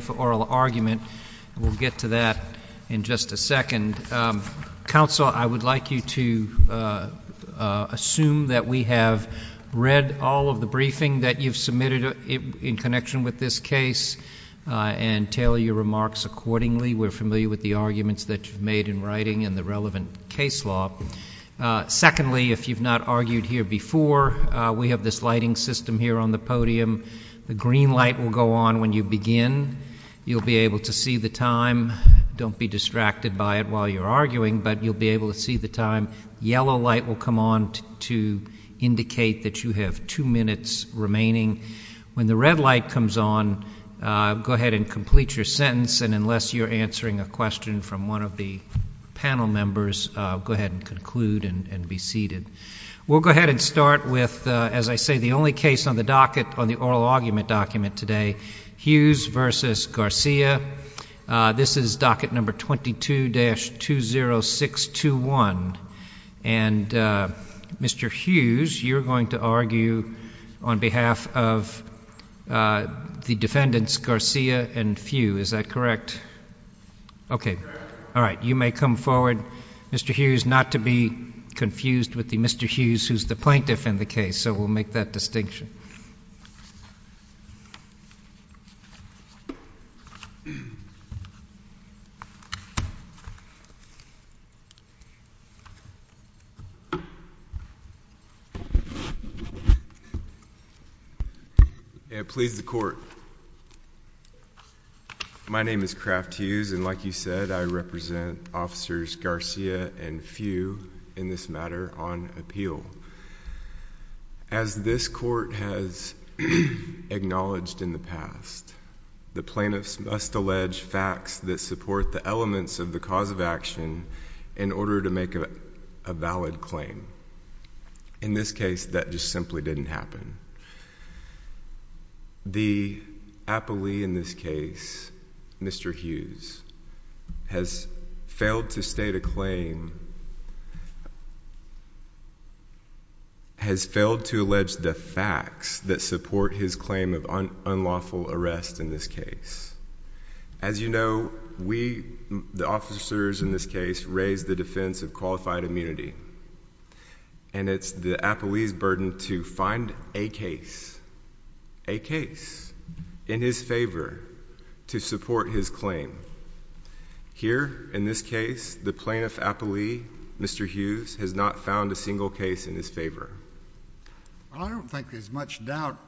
for oral argument. We'll get to that in just a second. Counsel, I would like you to assume that we have read all of the briefing that you've submitted in connection with this case and tailor your remarks accordingly. We're familiar with the arguments that you've made in writing and the relevant case law. Secondly, if you've not argued here before, we have this lighting system here on the podium. The green light will go on when you begin. You'll be able to see the time. Don't be distracted by it while you're arguing, but you'll be able to see the time. Yellow light will come on to indicate that you have two minutes remaining. When the red light comes on, go ahead and complete your sentence, and unless you're answering a question from one of the panel members, go ahead and conclude and be seated. We'll go ahead and start with, as I say, the only case on the docket on the oral argument document today, Hughes v. Garcia. This is docket number 22-20621. And, Mr. Hughes, you're going to argue on behalf of the defendants, Garcia and Few. Is that correct? Correct. Okay. All right. You may come forward, Mr. Hughes, not to be confused with the Mr. Hughes who's the plaintiff in the case, so we'll make that distinction. Yeah, please, the court. My name is Kraft Hughes, and like you said, I represent Officers Garcia and Few in this matter on appeal. As this court has acknowledged in the past, the plaintiffs must allege facts that support the elements of the cause of action in order to make a valid claim. In this case, that just simply didn't happen. The appellee in this case, Mr. Hughes, has failed to state a claim, has failed to allege the facts that support the case. As you know, we, the officers in this case, raise the defense of qualified immunity, and it's the appellee's burden to find a case, a case, in his favor to support his claim. Here, in this case, the plaintiff appellee, Mr. Hughes, has not found a single case in his favor. Well, I don't think there's much doubt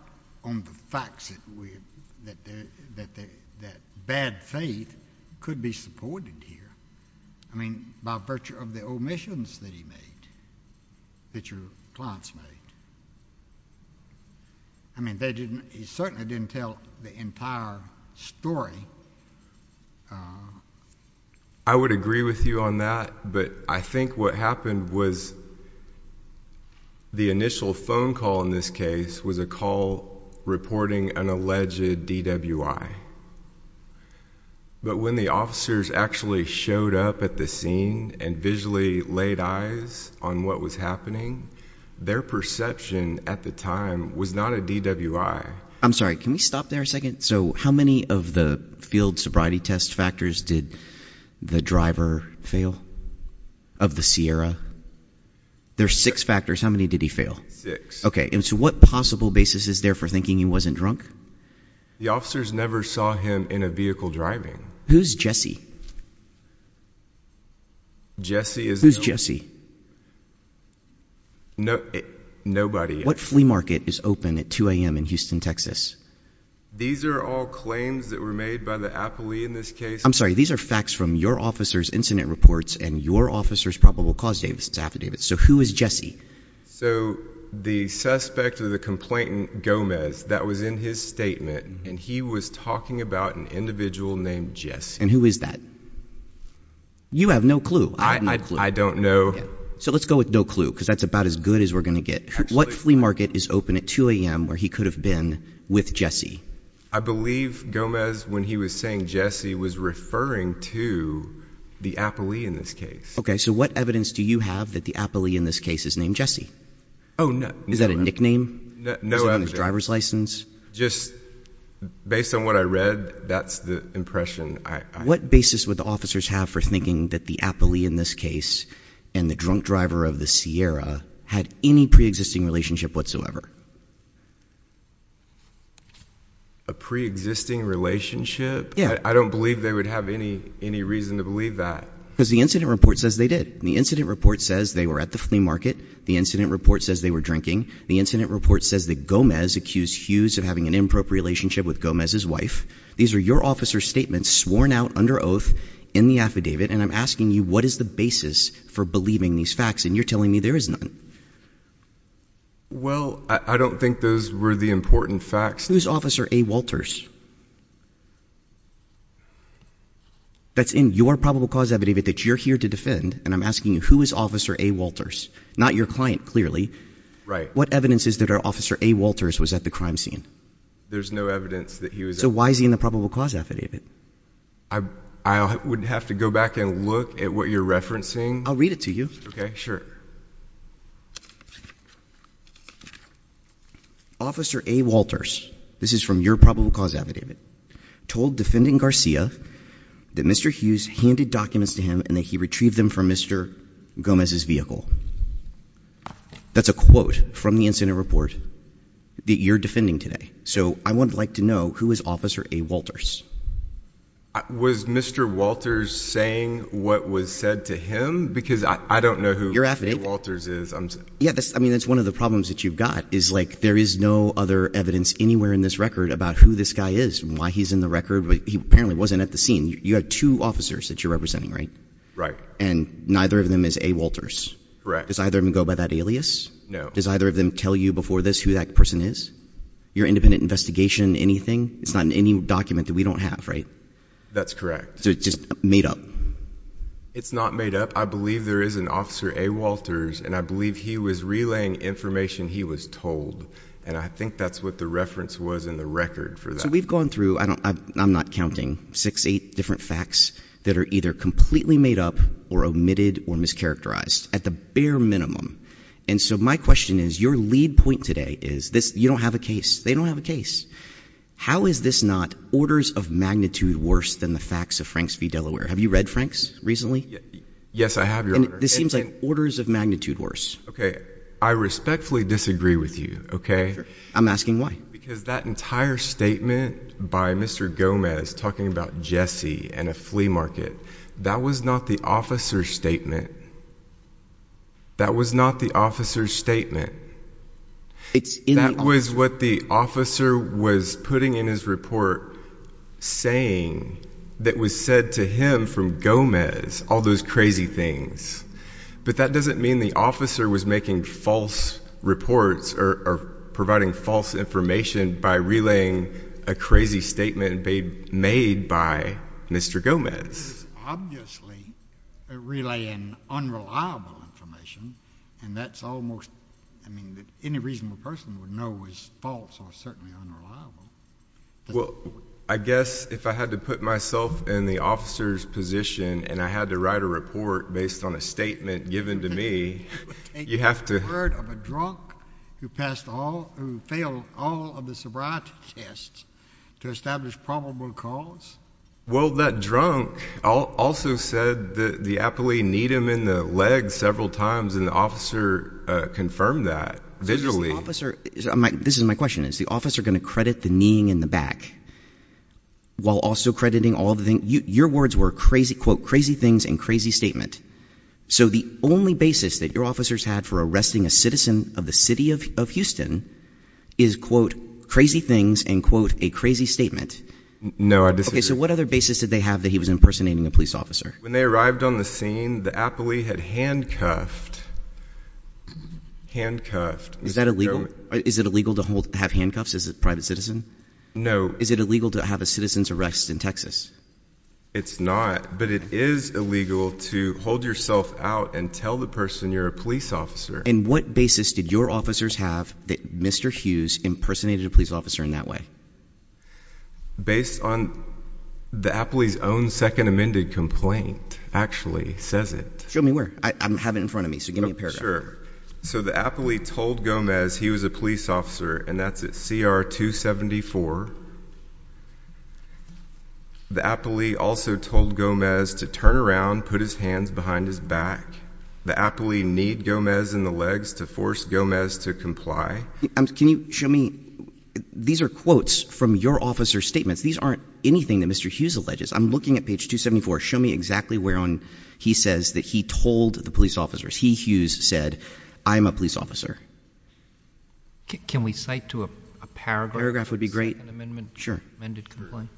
on the facts that bad faith could be supported here. I mean, by virtue of the omissions that he made, that your clients made. I mean, they didn't, he certainly didn't tell the entire story. I would agree with you on that, but I think what happened was the initial phone call in this case was a call reporting an alleged DWI. But when the officers actually showed up at the scene and visually laid eyes on what was happening, their perception at the time was not a DWI. I'm sorry, can we stop there a second? So how many of the field sobriety test factors did the driver fail, of the Sierra? There's six factors, how many did he fail? Six. Okay, and so what possible basis is there for thinking he wasn't drunk? The officers never saw him in a vehicle driving. Who's Jesse? Jesse is the only... Who's Jesse? No, nobody. What flea market is open at 2 a.m. in Houston, Texas? These are all claims that were made by the appellee in this case. I'm sorry, these are facts from your officer's incident reports and your officer's probable cause affidavits. So who is Jesse? So the suspect or the complainant, Gomez, that was in his statement and he was talking about an individual named Jesse. And who is that? You have no clue. I don't know. So let's go with no clue because that's about as good as we're going to get. What flea market is open at 2 a.m. where he could have been with Jesse? I believe Gomez, when he was saying Jesse, was referring to the appellee in this case. Okay, so what evidence do you have that the appellee in this case is named Jesse? Oh, no. Is that a nickname? No evidence. Is it on his driver's license? Just based on what I read, that's the impression I have. What basis would the officers have for thinking that the appellee in this case and the drunk driver of the Sierra had any pre-existing relationship whatsoever? A pre-existing relationship? Yeah. I don't believe they would have any reason to believe that. Because the incident report says they did. The incident report says they were at the flea market. The incident report says they were drinking. The incident report says that Gomez accused Hughes of having an improper relationship with Gomez's wife. These are your officer's statements sworn out under oath in the affidavit. And I'm asking you, what is the basis for believing these facts? And you're telling me there is none. Well, I don't think those were the important facts. Who is Officer A. Walters? That's in your probable cause affidavit that you're here to defend. And I'm asking you, who is Officer A. Walters? Not your client, clearly. What evidence is there that Officer A. Walters was at the crime scene? There's no evidence that he was at the crime scene. So why is he in the probable cause affidavit? I would have to go back and look at what you're referencing. I'll read it to you. Okay, sure. Officer A. Walters, this is from your probable cause affidavit, told Defendant Garcia that Mr. Hughes handed documents to him and that he retrieved them from Mr. Gomez's vehicle. That's a quote from the incident report that you're defending today. So I would like to know, who is Officer A. Walters? Was Mr. Walters saying what was said to him? Because I don't know who- You're affidavit. A. Walters is. Yeah, that's one of the problems that you've got, is there is no other evidence anywhere in this record about who this guy is and why he's in the record. But he apparently wasn't at the scene. You have two officers that you're representing, right? Right. And neither of them is A. Walters. Correct. Does either of them go by that alias? No. Does either of them tell you before this who that person is? Your independent investigation, anything? It's not in any document that we don't have, right? That's correct. So it's just made up? It's not made up. I believe there is an Officer A. Walters, and I believe he was relaying information he was told. And I think that's what the reference was in the record for that. So we've gone through, I'm not counting, six, eight different facts that are either completely made up or omitted or mischaracterized, at the bare minimum. And so my question is, your lead point today is, you don't have a case, they don't have a case. How is this not orders of magnitude worse than the facts of Franks v. Delaware? Have you read Franks recently? Yes, I have, Your Honor. This seems like orders of magnitude worse. Okay, I respectfully disagree with you, okay? I'm asking why. Because that entire statement by Mr. Gomez talking about Jesse and a flea market, that was not the officer's statement. That was not the officer's statement. That was what the officer was putting in his report, saying that was said to him from Gomez, all those crazy things. But that doesn't mean the officer was making false reports or providing false information by relaying a crazy statement made by Mr. Gomez. Obviously, relaying unreliable information, and that's almost, I mean, any reasonable person would know is false or certainly unreliable. Well, I guess if I had to put myself in the officer's position and I had to write a report based on a statement given to me, you have to- You would take the word of a drunk who failed all of the sobriety tests to establish probable cause? Well, that drunk also said that the appellee kneed him in the leg several times and the officer confirmed that visually. This is my question. Is the officer going to credit the kneeing in the back while also crediting all the things? Your words were quote, crazy things and crazy statement. So the only basis that your officers had for arresting a citizen of the city of Houston is quote, crazy things and quote, a crazy statement. No, I disagree. Okay, so what other basis did they have that he was impersonating a police officer? When they arrived on the scene, the appellee had handcuffed, handcuffed. Is that illegal? Is it illegal to have handcuffs as a private citizen? No. Is it illegal to have a citizen's arrest in Texas? It's not, but it is illegal to hold yourself out and tell the person you're a police officer. And what basis did your officers have that Mr. Hughes impersonated a police officer in that way? Based on the appellee's own second amended complaint, actually says it. Show me where. I have it in front of me, so give me a paragraph. Sure. So the appellee told Gomez he was a police officer, and that's at CR 274. The appellee also told Gomez to turn around, put his hands behind his back. The appellee kneed Gomez in the legs to force Gomez to comply. Can you show me, these are quotes from your officer's statements. These aren't anything that Mr. Hughes alleges. I'm looking at page 274, show me exactly where on he says that he told the police officers. He, Hughes, said, I'm a police officer. Can we cite to a paragraph? Paragraph would be great. Second amendment. Sure. Amended complaint.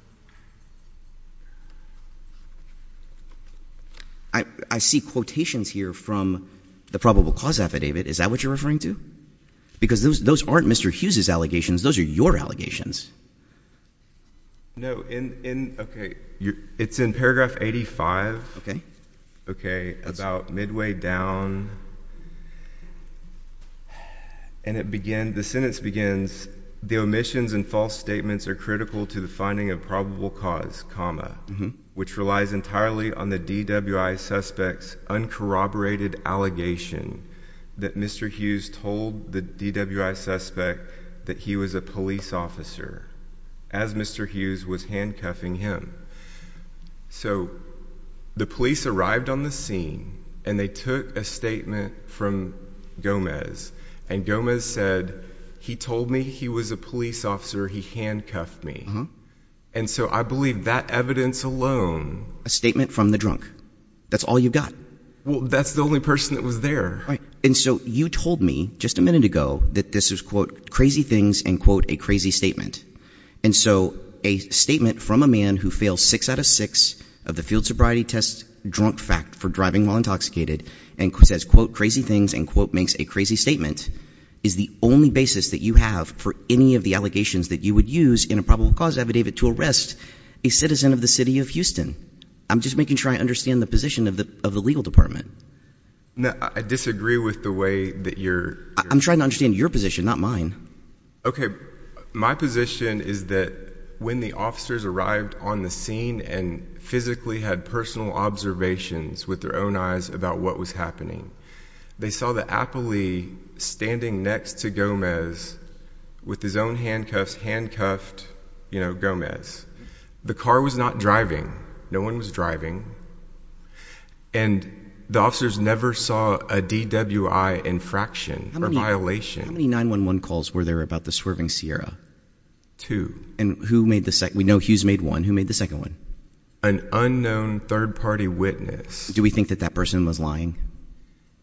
I see quotations here from the probable cause affidavit. Is that what you're referring to? Because those aren't Mr. Hughes's allegations, those are your allegations. No, in, okay, it's in paragraph 85. Okay. Okay, about midway down, and it began, the sentence begins, the omissions and false statements are critical to the finding of probable cause, comma, which relies entirely on the DWI suspect's uncorroborated allegation that Mr. Hughes told the DWI suspect that he was a police officer, as Mr. Hughes was handcuffing him. So the police arrived on the scene, and they took a statement from Gomez. And Gomez said, he told me he was a police officer, he handcuffed me. Mm-hm. And so I believe that evidence alone. A statement from the drunk. That's all you got. That's the only person that was there. And so you told me, just a minute ago, that this was, quote, crazy things and, quote, a crazy statement. And so a statement from a man who failed six out of six of the field sobriety test drunk fact for driving while intoxicated, and says, quote, crazy things, and quote, makes a crazy statement, is the only basis that you have for any of the allegations that you would use in a probable cause affidavit to arrest a citizen of the city of Houston. I'm just making sure I understand the position of the legal department. No, I disagree with the way that you're- I'm trying to understand your position, not mine. Okay, my position is that when the officers arrived on the scene and physically had personal observations with their own eyes about what was happening, they saw the appellee standing next to Gomez with his own handcuffs, handcuffed Gomez. The car was not driving. No one was driving. And the officers never saw a DWI infraction or violation. How many 911 calls were there about the swerving Sierra? Two. And who made the second? We know Hughes made one. Who made the second one? An unknown third party witness. Do we think that that person was lying?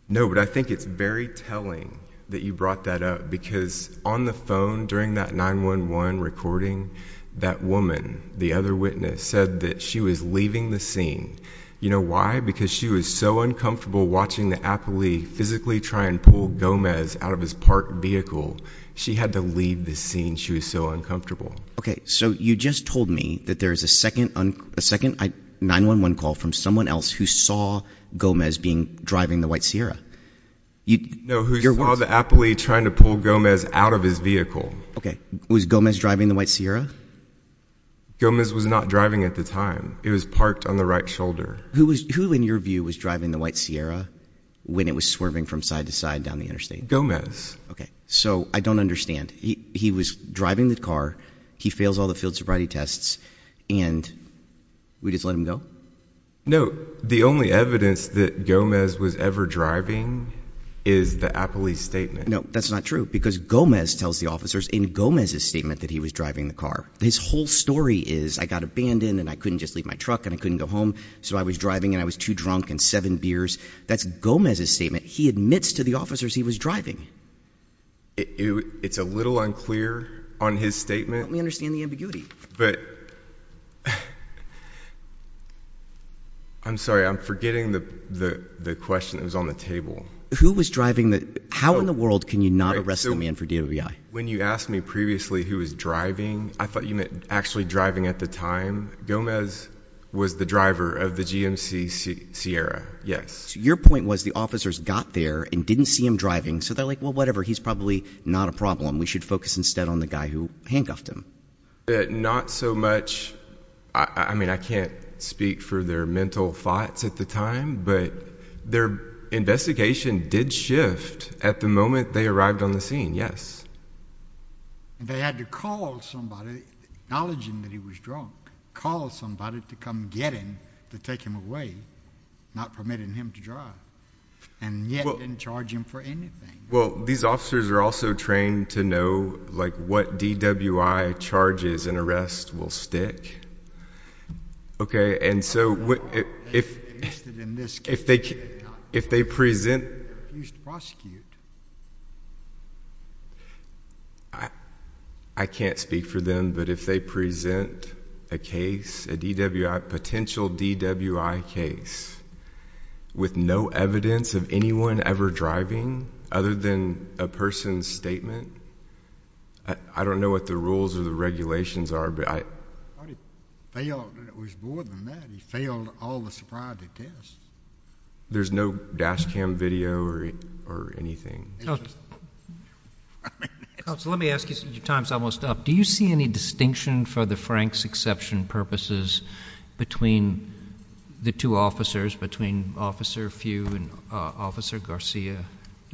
No, but I think it's very telling that you brought that up, because on the phone during that 911 recording, that woman, the other witness, said that she was leaving the scene. You know why? Because she was so uncomfortable watching the appellee physically try and pull Gomez out of his parked vehicle. She had to leave the scene. She was so uncomfortable. Okay, so you just told me that there's a second 911 call from someone else who saw Gomez driving the white Sierra. No, who saw the appellee trying to pull Gomez out of his vehicle. Okay, was Gomez driving the white Sierra? Gomez was not driving at the time. It was parked on the right shoulder. Who in your view was driving the white Sierra when it was swerving from side to side down the interstate? Gomez. Okay, so I don't understand. He was driving the car, he fails all the field sobriety tests, and we just let him go? No, the only evidence that Gomez was ever driving is the appellee's statement. No, that's not true, because Gomez tells the officers in Gomez's statement that he was driving the car. His whole story is, I got abandoned and I couldn't just leave my truck and I couldn't go home. So I was driving and I was too drunk and seven beers. That's Gomez's statement. He admits to the officers he was driving. It's a little unclear on his statement. Let me understand the ambiguity. But, I'm sorry, I'm forgetting the question that was on the table. Who was driving the, how in the world can you not arrest a man for DOVI? When you asked me previously who was driving, I thought you meant actually driving at the time. Gomez was the driver of the GMC Sierra, yes. So your point was the officers got there and didn't see him driving, so they're like, well, whatever, he's probably not a problem. We should focus instead on the guy who handcuffed him. Not so much, I mean, I can't speak for their mental thoughts at the time, but their investigation did shift at the moment they arrived on the scene, yes. And they had to call somebody, acknowledging that he was drunk, call somebody to come get him, to take him away, not permitting him to drive. And yet, didn't charge him for anything. Well, these officers are also trained to know what DWI charges and arrest will stick. Okay, and so if they present. I can't speak for them, but if they present a case, a DWI, potential DWI case, with no evidence of anyone ever driving, other than a person's statement, I don't know what the rules or the regulations are, but I. I thought he failed, it was more than that, he failed all the surprise attempts. There's no dash cam video or anything. Counselor, let me ask you, your time's almost up. Do you see any distinction for the Frank's exception purposes between the two officers, between Officer Few and Officer Garcia? Do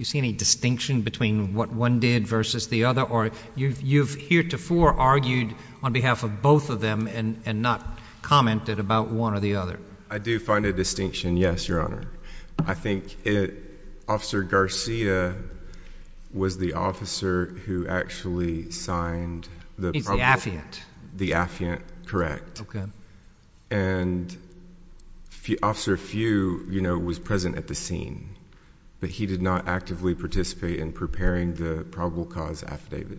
you see any distinction between what one did versus the other, or you've heretofore argued on behalf of both of them and not commented about one or the other? I do find a distinction, yes, your honor. I think Officer Garcia was the officer who actually signed the- He's the affiant. The affiant, correct. Okay. And Officer Few was present at the scene, but he did not actively participate in preparing the probable cause affidavit.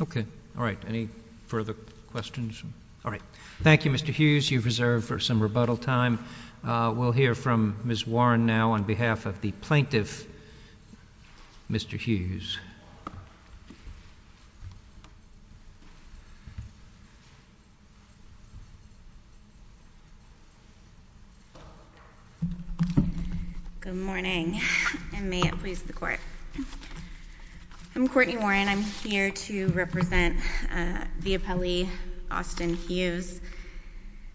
Okay, all right, any further questions? All right, thank you Mr. Hughes, you've reserved for some rebuttal time. We'll hear from Ms. Warren now on behalf of the plaintiff, Mr. Hughes. Good morning, and may it please the court. I'm Courtney Warren, I'm here to represent the appellee, Austin Hughes.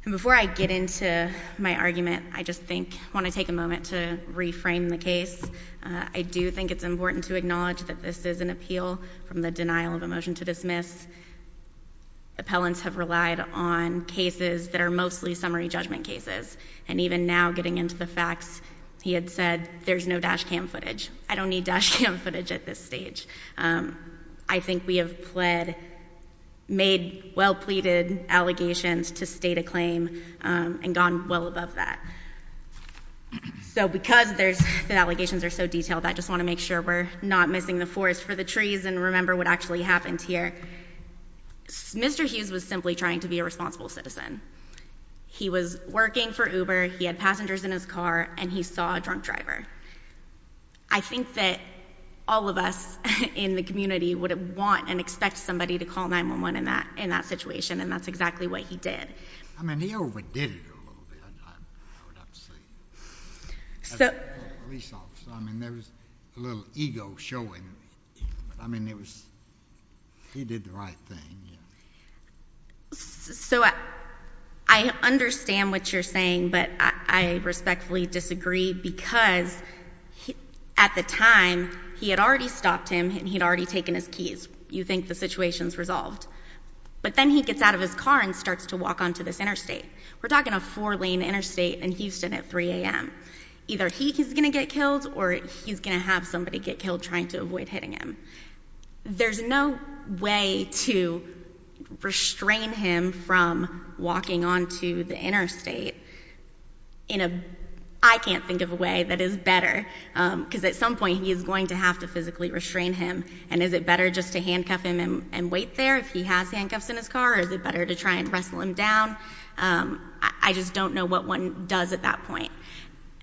And before I get into my argument, I just want to take a moment to reframe the case. I do think it's important to acknowledge that this is an appeal from the denial of a motion to dismiss. These appellants have relied on cases that are mostly summary judgment cases. And even now, getting into the facts, he had said, there's no dash cam footage. I don't need dash cam footage at this stage. I think we have pled, made well pleaded allegations to state a claim and gone well above that. So because the allegations are so detailed, I just want to make sure we're not missing the forest for the trees and remember what actually happened here. Mr. Hughes was simply trying to be a responsible citizen. He was working for Uber, he had passengers in his car, and he saw a drunk driver. I think that all of us in the community would want and expect somebody to call 911 in that situation, and that's exactly what he did. I mean, he overdid it a little bit, I would have to say. So- So I understand what you're saying, but I respectfully disagree because at the time, he had already stopped him and he had already taken his keys. You think the situation's resolved. But then he gets out of his car and starts to walk onto this interstate. We're talking a four lane interstate in Houston at 3 AM. Either he's going to get killed or he's going to have somebody get killed trying to avoid hitting him. There's no way to restrain him from walking onto the interstate. In a, I can't think of a way that is better. Because at some point, he is going to have to physically restrain him. And is it better just to handcuff him and wait there if he has handcuffs in his car, or is it better to try and wrestle him down? I just don't know what one does at that point.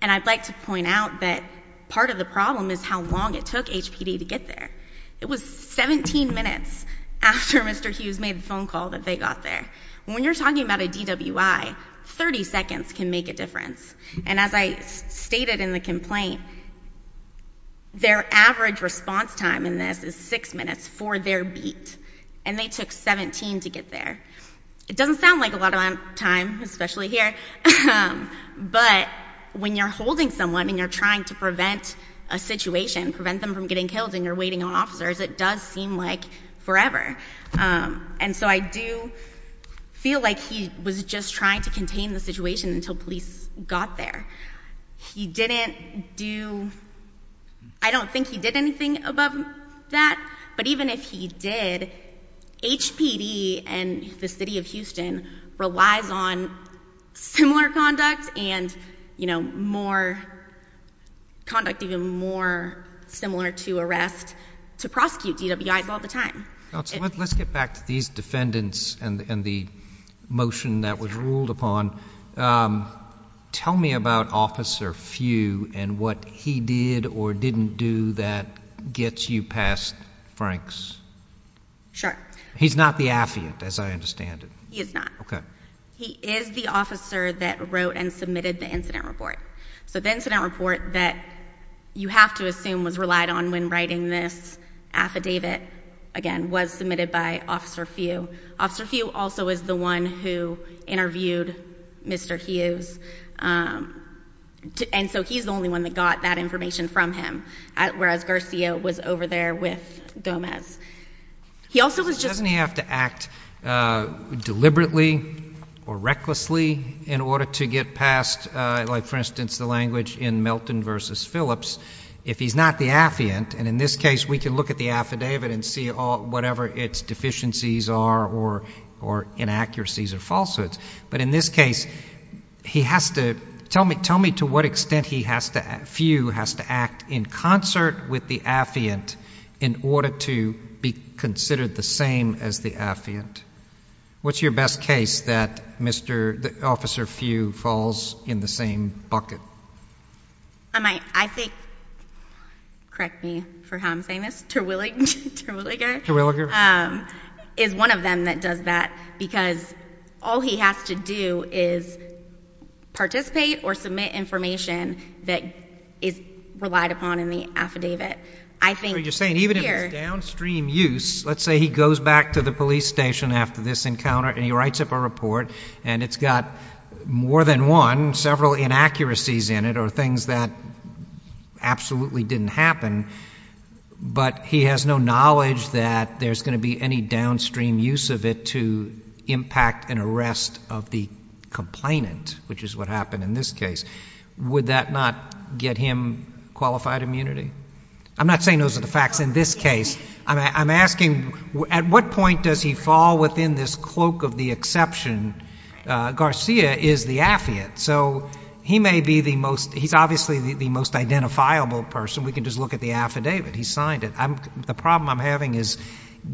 And I'd like to point out that part of the problem is how long it took HPD to get there. It was 17 minutes after Mr. Hughes made the phone call that they got there. When you're talking about a DWI, 30 seconds can make a difference. And as I stated in the complaint, their average response time in this is six minutes for their beat. And they took 17 to get there. It doesn't sound like a lot of time, especially here. But when you're holding someone and you're trying to prevent a situation, prevent them from getting killed and you're waiting on officers, it does seem like forever. And so I do feel like he was just trying to contain the situation until police got there. He didn't do, I don't think he did anything above that. But even if he did, HPD and the city of Houston relies on similar conduct and conduct even more similar to arrest to prosecute DWIs all the time. So let's get back to these defendants and the motion that was ruled upon. Tell me about Officer Few and what he did or didn't do that gets you past Franks. Sure. He's not the affiant as I understand it. He is not. Okay. He is the officer that wrote and submitted the incident report. So the incident report that you have to assume was relied on when writing this affidavit, again, was submitted by Officer Few. Officer Few also is the one who interviewed Mr. Hughes. And so he's the only one that got that information from him, whereas Garcia was over there with Gomez. He also was just- Deliberately or recklessly in order to get past, for instance, the language in Melton versus Phillips. If he's not the affiant, and in this case, we can look at the affidavit and see whatever its deficiencies are or inaccuracies or falsehoods. But in this case, he has to, tell me to what extent Few has to act in concert with the affiant in order to be considered the same as the affiant. What's your best case that Officer Few falls in the same bucket? I think, correct me for how I'm saying this, Terwilliger. Terwilliger. Is one of them that does that because all he has to do is participate or submit an attorney affidavit, I think- So you're saying even if it's downstream use, let's say he goes back to the police station after this encounter and he writes up a report and it's got more than one, several inaccuracies in it or things that absolutely didn't happen, but he has no knowledge that there's going to be any downstream use of it to impact an arrest of the complainant, which is what happened in this case, would that not get him qualified immunity? I'm not saying those are the facts in this case. I'm asking, at what point does he fall within this cloak of the exception, Garcia is the affiant. So he may be the most, he's obviously the most identifiable person. We can just look at the affidavit. He signed it. The problem I'm having is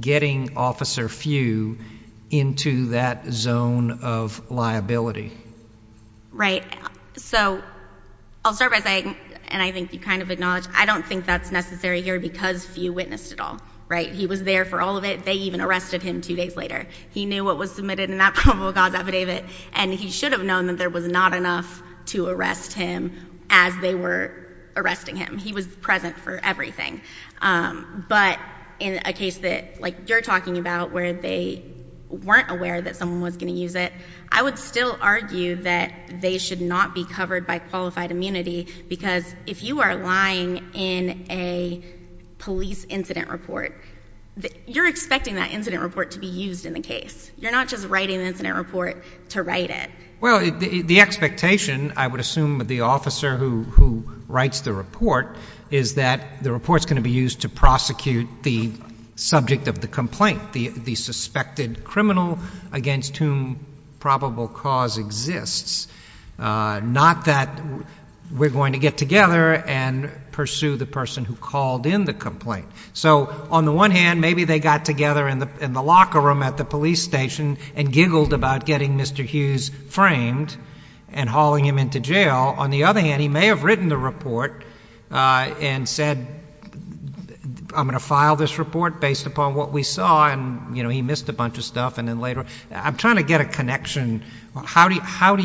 getting Officer Few into that zone of liability. Right, so I'll start by saying, and I think you kind of acknowledge, I don't think that's necessary here because Few witnessed it all, right? He was there for all of it. They even arrested him two days later. He knew what was submitted in that probable cause affidavit. And he should have known that there was not enough to arrest him as they were arresting him. He was present for everything. But in a case that you're talking about where they weren't aware that someone was going to use it, I would still argue that they should not be covered by qualified immunity. Because if you are lying in a police incident report, you're expecting that incident report to be used in the case. You're not just writing the incident report to write it. Well, the expectation, I would assume, of the officer who writes the report is that the report's going to be used to prosecute the subject of the complaint. The suspected criminal against whom probable cause exists. Not that we're going to get together and pursue the person who called in the complaint. So on the one hand, maybe they got together in the locker room at the police station and giggled about getting Mr. Hughes framed and hauling him into jail. On the other hand, he may have written the report and said, I'm going to file this report based upon what we saw and he missed a bunch of stuff and then later. I'm trying to get a connection. How have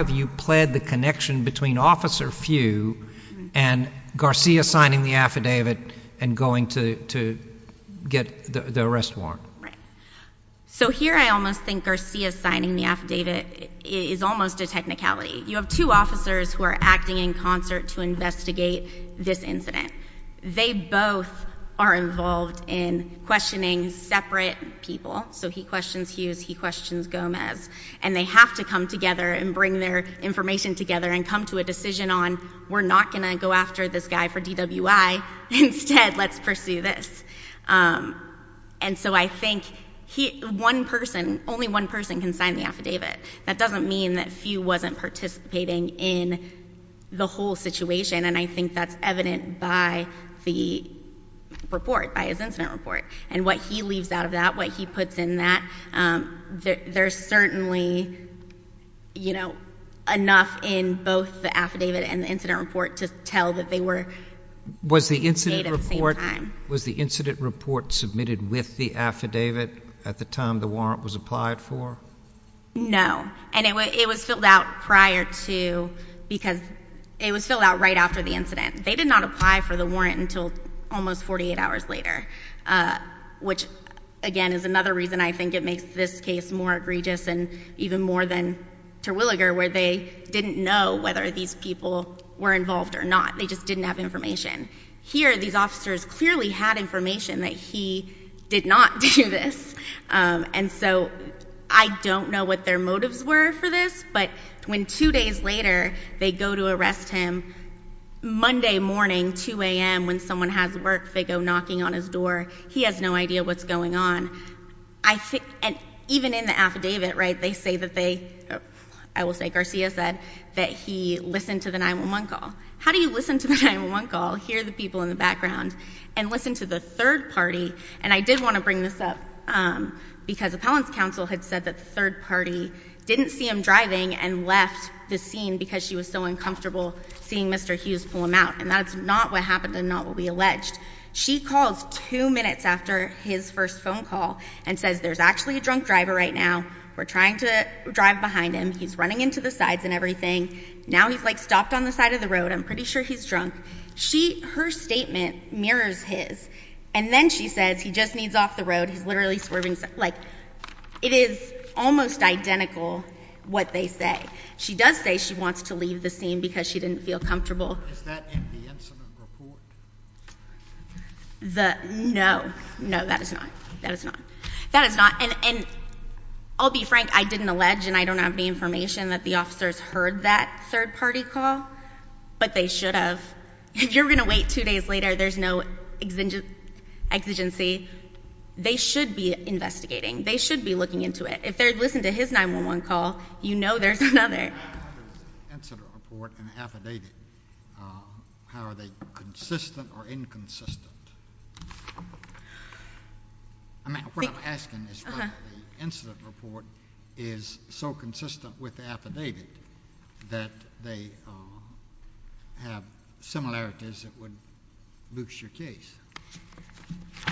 you pled the connection between Officer Few and Garcia signing the affidavit and going to get the arrest warrant? Right. So here I almost think Garcia signing the affidavit is almost a technicality. You have two officers who are acting in concert to investigate this incident. They both are involved in questioning separate people. So he questions Hughes, he questions Gomez. And they have to come together and bring their information together and come to a decision on, we're not going to go after this guy for DWI, instead let's pursue this. And so I think only one person can sign the affidavit. That doesn't mean that Few wasn't participating in the whole situation. And I think that's evident by the report, by his incident report. And what he leaves out of that, what he puts in that, there's certainly enough in both the affidavit and the incident report to tell that they were made at the same time. Was the incident report submitted with the affidavit at the time the warrant was applied for? No. And it was filled out prior to, because it was filled out right after the incident. They did not apply for the warrant until almost 48 hours later. Which again is another reason I think it makes this case more egregious and even more than Terwilliger where they didn't know whether these people were involved or not. They just didn't have information. Here these officers clearly had information that he did not do this. And so I don't know what their motives were for this, but when two days later they go to arrest him, Monday morning, 2 AM when someone has work, they go knocking on his door, he has no idea what's going on. I think, and even in the affidavit, right, they say that they, I will say Garcia said, that he listened to the 9-1-1 call. How do you listen to the 9-1-1 call, hear the people in the background, and listen to the third party? And I did want to bring this up because appellant's counsel had said that the third party didn't see him driving and left the scene because she was so uncomfortable seeing Mr. Hughes pull him out. And that's not what happened and not what we alleged. She calls two minutes after his first phone call and says there's actually a drunk driver right now. We're trying to drive behind him. He's running into the sides and everything. Now he's like stopped on the side of the road. I'm pretty sure he's drunk. Her statement mirrors his. And then she says, he just needs off the road, he's literally swerving. Like, it is almost identical what they say. She does say she wants to leave the scene because she didn't feel comfortable. Is that in the incident report? No, no, that is not, that is not. That is not, and I'll be frank, I didn't allege and I don't have the information that the officers heard that third party call. But they should have. If you're going to wait two days later, there's no exigency. They should be investigating. They should be looking into it. If they listen to his 911 call, you know there's another. In the incident report and affidavit, how are they consistent or inconsistent? I mean, what I'm asking is whether the incident report is so have similarities that would boost your case.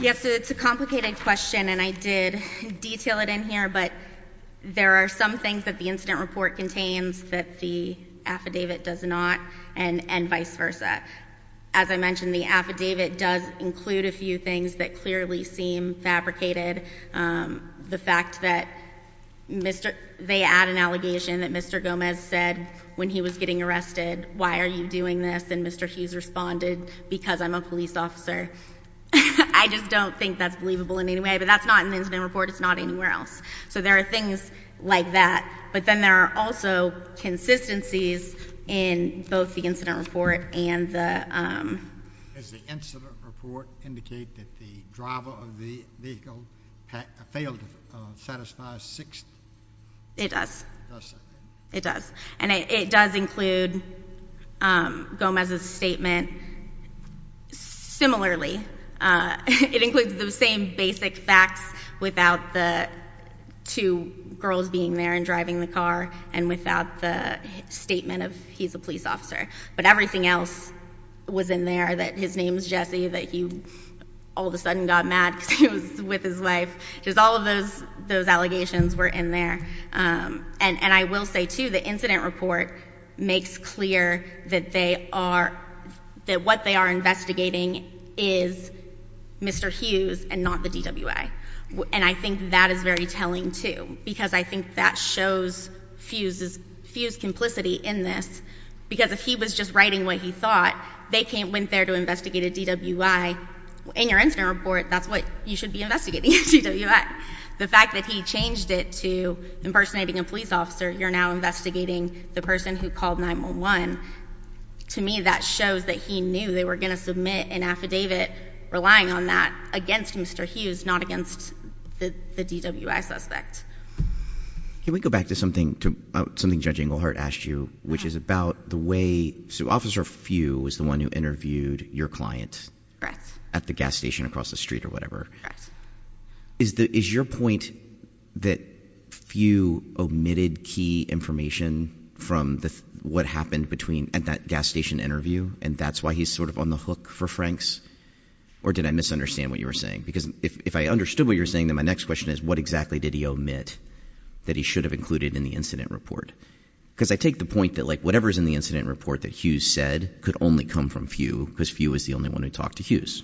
Yes, it's a complicated question and I did detail it in here, but there are some things that the incident report contains that the affidavit does not and vice versa. As I mentioned, the affidavit does include a few things that clearly seem fabricated. The fact that they add an allegation that Mr. Gomez said when he was getting arrested, why are you doing this, and Mr. Hughes responded, because I'm a police officer. I just don't think that's believable in any way, but that's not in the incident report, it's not anywhere else. So there are things like that, but then there are also consistencies in both the incident report and the- Does the incident report indicate that the driver of the vehicle failed to satisfy six- It does. It does. And it does include Gomez's statement. Similarly, it includes the same basic facts without the two girls being there and driving the car and without the statement of he's a police officer. But everything else was in there, that his name's Jesse, that he all of a sudden got mad because he was with his wife. Just all of those allegations were in there. And I will say, too, the incident report makes clear that they are, that what they are investigating is Mr. Hughes and not the DWA. And I think that is very telling, too, because I think that shows Hughes' complicity in this. Because if he was just writing what he thought, they went there to investigate a DWI. In your incident report, that's what you should be investigating, a DWI. The fact that he changed it to impersonating a police officer, you're now investigating the person who called 911. To me, that shows that he knew they were going to submit an affidavit relying on that against Mr. Hughes, not against the DWI suspect. Can we go back to something Judge Englehart asked you, which is about the way, so Officer Few was the one who interviewed your client at the gas station across the street or whatever. Is your point that Few omitted key information from what happened at that gas station interview, and that's why he's sort of on the hook for Frank's? Or did I misunderstand what you were saying? Because if I understood what you were saying, then my next question is, what exactly did he omit that he should have included in the incident report? because I take the point that whatever's in the incident report that Hughes said could only come from Few, because Few is the only one who talked to Hughes.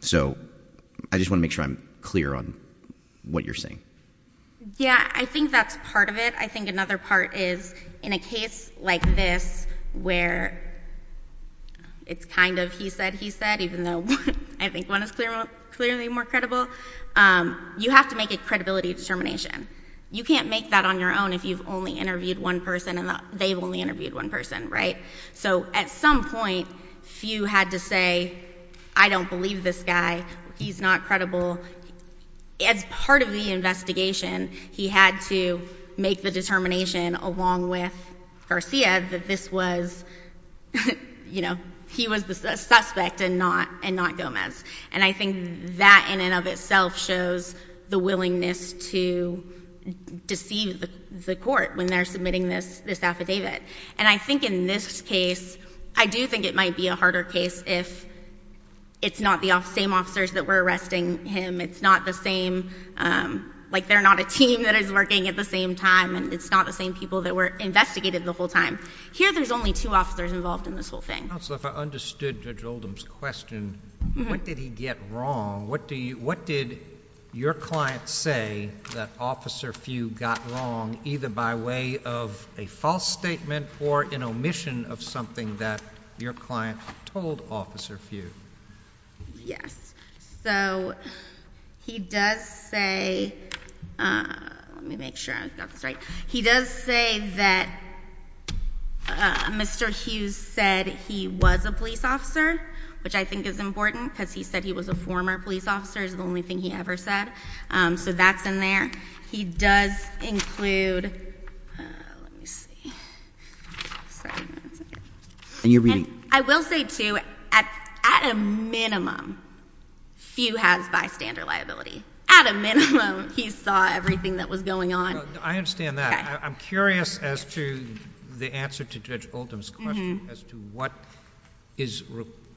So I just want to make sure I'm clear on what you're saying. Yeah, I think that's part of it. I think another part is, in a case like this, where it's kind of he said, he said, even though I think one is clearly more credible, you have to make a credibility determination. You can't make that on your own if you've only interviewed one person and they've only interviewed one person, right? So at some point, Few had to say, I don't believe this guy. He's not credible. As part of the investigation, he had to make the determination along with And I think that in and of itself shows the willingness to deceive the court when they're submitting this affidavit. And I think in this case, I do think it might be a harder case if it's not the same officers that were arresting him. It's not the same, like they're not a team that is working at the same time. And it's not the same people that were investigated the whole time. Here there's only two officers involved in this whole thing. Counsel, if I understood Judge Oldham's question, what did he get wrong? What did your client say that Officer Few got wrong, either by way of a false statement or an omission of something that your client told Officer Few? Yes, so he does say, let me make sure I've got this right. He does say that Mr. Hughes said he was a police officer, which I think is important because he said he was a former police officer is the only thing he ever said. So that's in there. He does include, let me see. I'm sorry, that's okay. I will say too, at a minimum, Few has bystander liability. At a minimum, he saw everything that was going on. I understand that. I'm curious as to the answer to Judge Oldham's question as to what is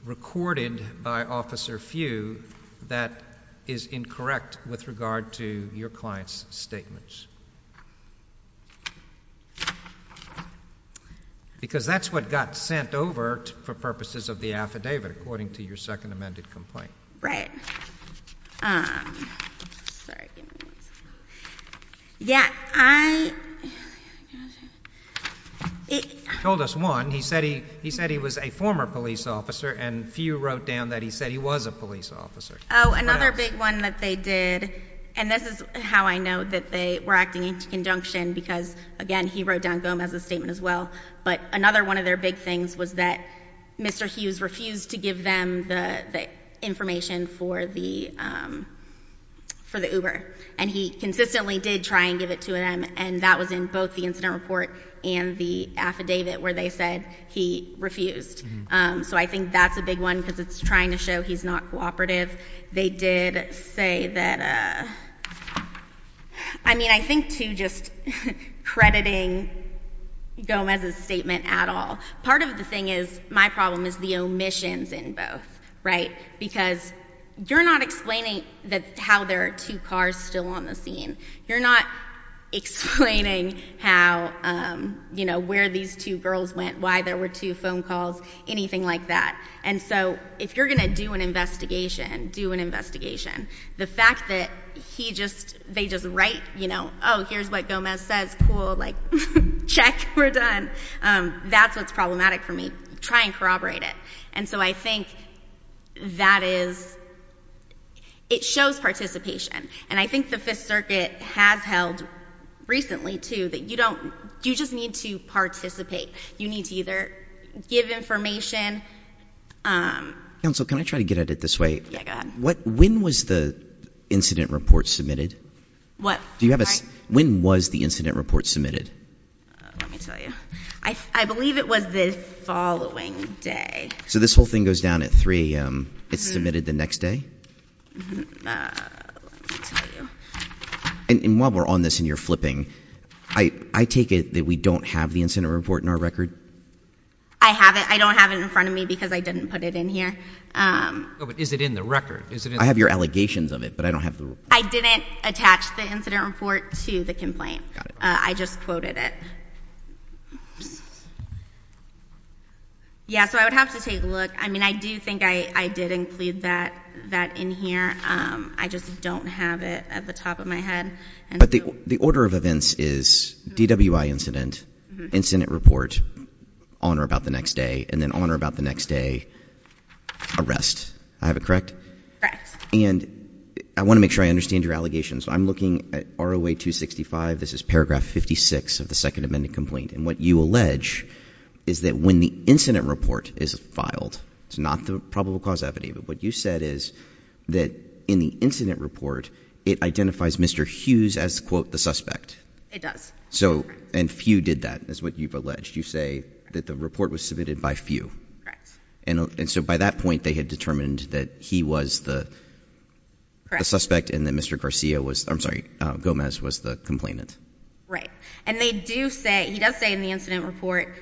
recorded by Officer Few that is incorrect with regard to your client's statements. Because that's what got sent over for purposes of the affidavit, according to your second amended complaint. Right. Sorry, give me one second. Yeah, I- He told us one. He said he was a former police officer, and Few wrote down that he said he was a police officer. What else? Another big one that they did, and this is how I know that they were acting in conjunction. Because again, he wrote down Gomez's statement as well. But another one of their big things was that Mr. Hughes refused to give them the information for the Uber. And he consistently did try and give it to them, and that was in both the incident report and the affidavit where they said he refused. So I think that's a big one, because it's trying to show he's not cooperative. They did say that, I mean, I think too, just crediting Gomez's statement at all. Part of the thing is, my problem is the omissions in both, right? Because you're not explaining how there are two cars still on the scene. You're not explaining how, where these two girls went, why there were two phone calls, anything like that. And so, if you're going to do an investigation, do an investigation. The fact that they just write, here's what Gomez says, cool, check, we're done. That's what's problematic for me. Try and corroborate it. And so I think that is, it shows participation. And I think the Fifth Circuit has held recently, too, that you just need to participate. You need to either give information. Counsel, can I try to get at it this way? Yeah, go ahead. When was the incident report submitted? What? When was the incident report submitted? Let me tell you. I believe it was the following day. So this whole thing goes down at 3 AM. It's submitted the next day? Mm-hm. Let me tell you. And while we're on this and you're flipping, I take it that we don't have the incident report in our record? I have it. I have it in front of me because I didn't put it in here. But is it in the record? I have your allegations of it, but I don't have the report. I didn't attach the incident report to the complaint. I just quoted it. Yeah, so I would have to take a look. I mean, I do think I did include that in here. I just don't have it at the top of my head. But the order of events is DWI incident, incident report, honor about the next day, and then honor about the next day, arrest. I have it correct? Correct. And I want to make sure I understand your allegations. I'm looking at ROA 265, this is paragraph 56 of the second amendment complaint. And what you allege is that when the incident report is filed, it's not the probable cause evident. But what you said is that in the incident report, it identifies Mr. Hughes as, quote, the suspect. So, and few did that, is what you've alleged. You say that the report was submitted by few. Correct. And so by that point, they had determined that he was the suspect and that Mr. Garcia was, I'm sorry, Gomez was the complainant. Right. And they do say, he does say in the incident report,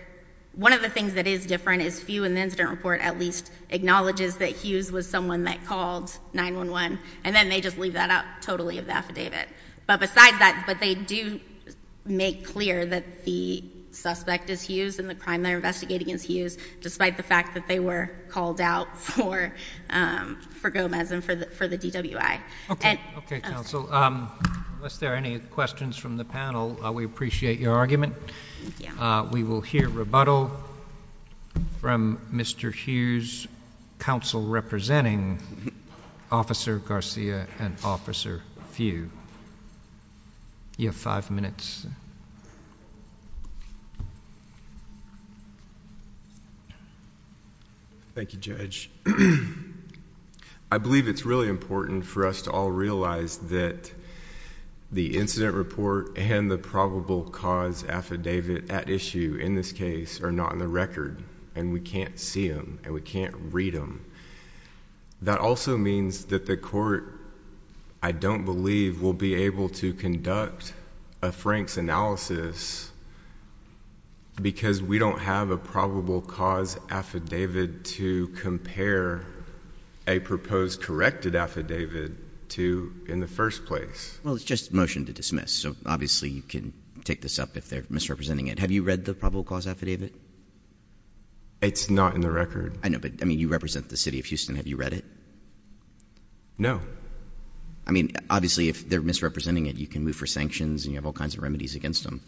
one of the things that is different is few in the incident report at least acknowledges that Hughes was someone that called 911, and then they just leave that out totally of the affidavit. But besides that, but they do make clear that the suspect is Hughes and the crime they're investigating is Hughes, despite the fact that they were called out for Gomez and for the DWI. Okay. Okay, counsel. Unless there are any questions from the panel, we appreciate your argument. Thank you. We will hear rebuttal from Mr. Hughes, counsel representing Officer Garcia and Officer Few. You have five minutes. Thank you, Judge. I believe it's really important for us to all realize that the incident report and the probable cause affidavit at issue in this case are not in the record. And we can't see them, and we can't read them. That also means that the court, I don't believe, will be able to conduct a Frank's analysis, because we don't have a probable cause affidavit to compare a proposed corrected affidavit to in the first place. Well, it's just a motion to dismiss, so obviously you can take this up if they're misrepresenting it. Have you read the probable cause affidavit? It's not in the record. I know, but I mean, you represent the city of Houston. Have you read it? No. I mean, obviously if they're misrepresenting it, you can move for sanctions, and you have all kinds of remedies against them.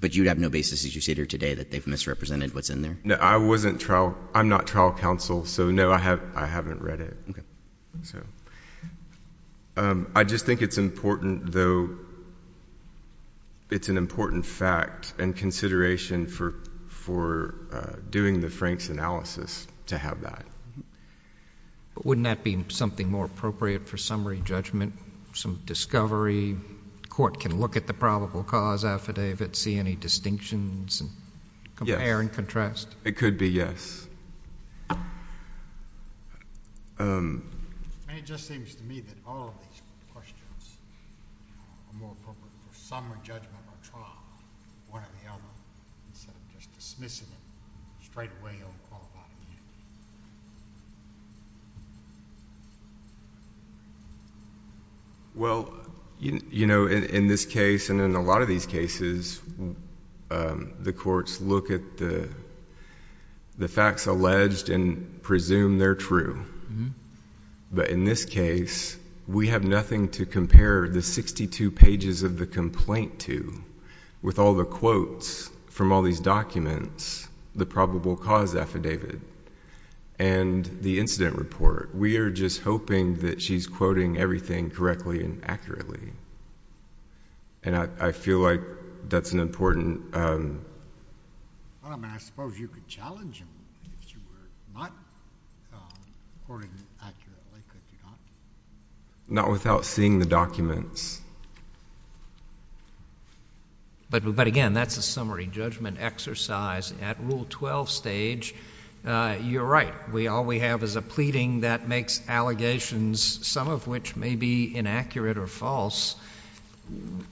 But you'd have no basis, as you sit here today, that they've misrepresented what's in there? No, I wasn't trial, I'm not trial counsel, so no, I haven't read it. Okay. So, I just think it's important, though, it's an important fact and consideration for doing the Frank's analysis to have that. Wouldn't that be something more appropriate for summary judgment, some discovery? Court can look at the probable cause affidavit, see any distinctions, and compare and contrast. It could be, yes. And it just seems to me that all of these questions are more appropriate for summary judgment or trial, one or the other. Instead of just dismissing it, straight away, I'll call it off. Well, in this case, and in a lot of these cases, the courts look at the facts alleged and presume they're true. But in this case, we have nothing to compare the 62 pages of the complaint to, with all the quotes from all these documents, the probable cause affidavit, and the incident report. We are just hoping that she's quoting everything correctly and accurately. And I feel like that's an important- Well, I mean, I suppose you could challenge him if she were not quoting accurately, could you not? Not without seeing the documents. But again, that's a summary judgment exercise. At Rule 12 stage, you're right. All we have is a pleading that makes allegations, some of which may be inaccurate or false,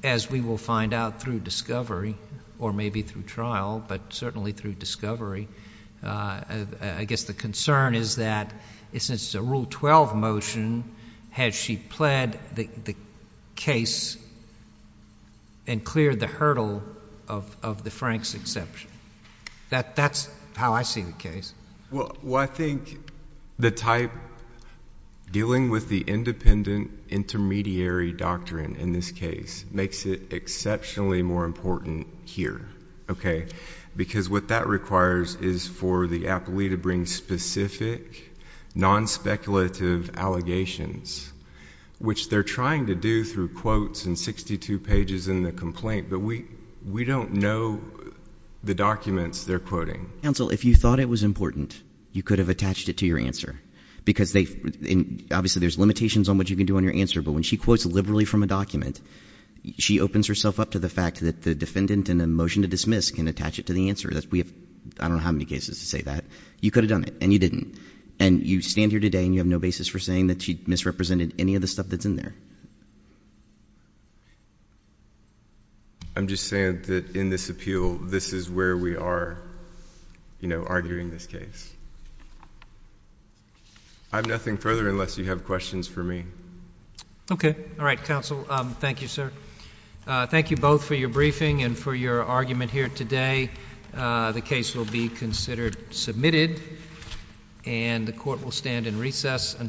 as we will find out through discovery, or maybe through trial, but certainly through discovery. I guess the concern is that, since it's a Rule 12 motion, has she pled the case and cleared the hurdle of the Franks exception? That's how I see the case. Well, I think the type dealing with the independent intermediary doctrine in this case makes it exceptionally more important here. Okay? Because what that requires is for the appellee to bring specific, non-speculative allegations, which they're trying to do through quotes and 62 pages in the complaint, but we don't know the documents they're quoting. Counsel, if you thought it was important, you could have attached it to your answer. Because obviously there's limitations on what you can do on your answer, but when she quotes liberally from a document, she opens herself up to the fact that the defendant in a motion to dismiss can attach it to the answer. We have I don't know how many cases to say that. You could have done it, and you didn't. And you stand here today, and you have no basis for saying that she misrepresented any of the stuff that's in there. I'm just saying that in this appeal, this is where we are, you know, arguing this case. I have nothing further unless you have questions for me. Okay. All right, counsel. Thank you, sir. Thank you both for your briefing and for your argument here today. The case will be considered submitted, and the court will stand in recess until the hearing.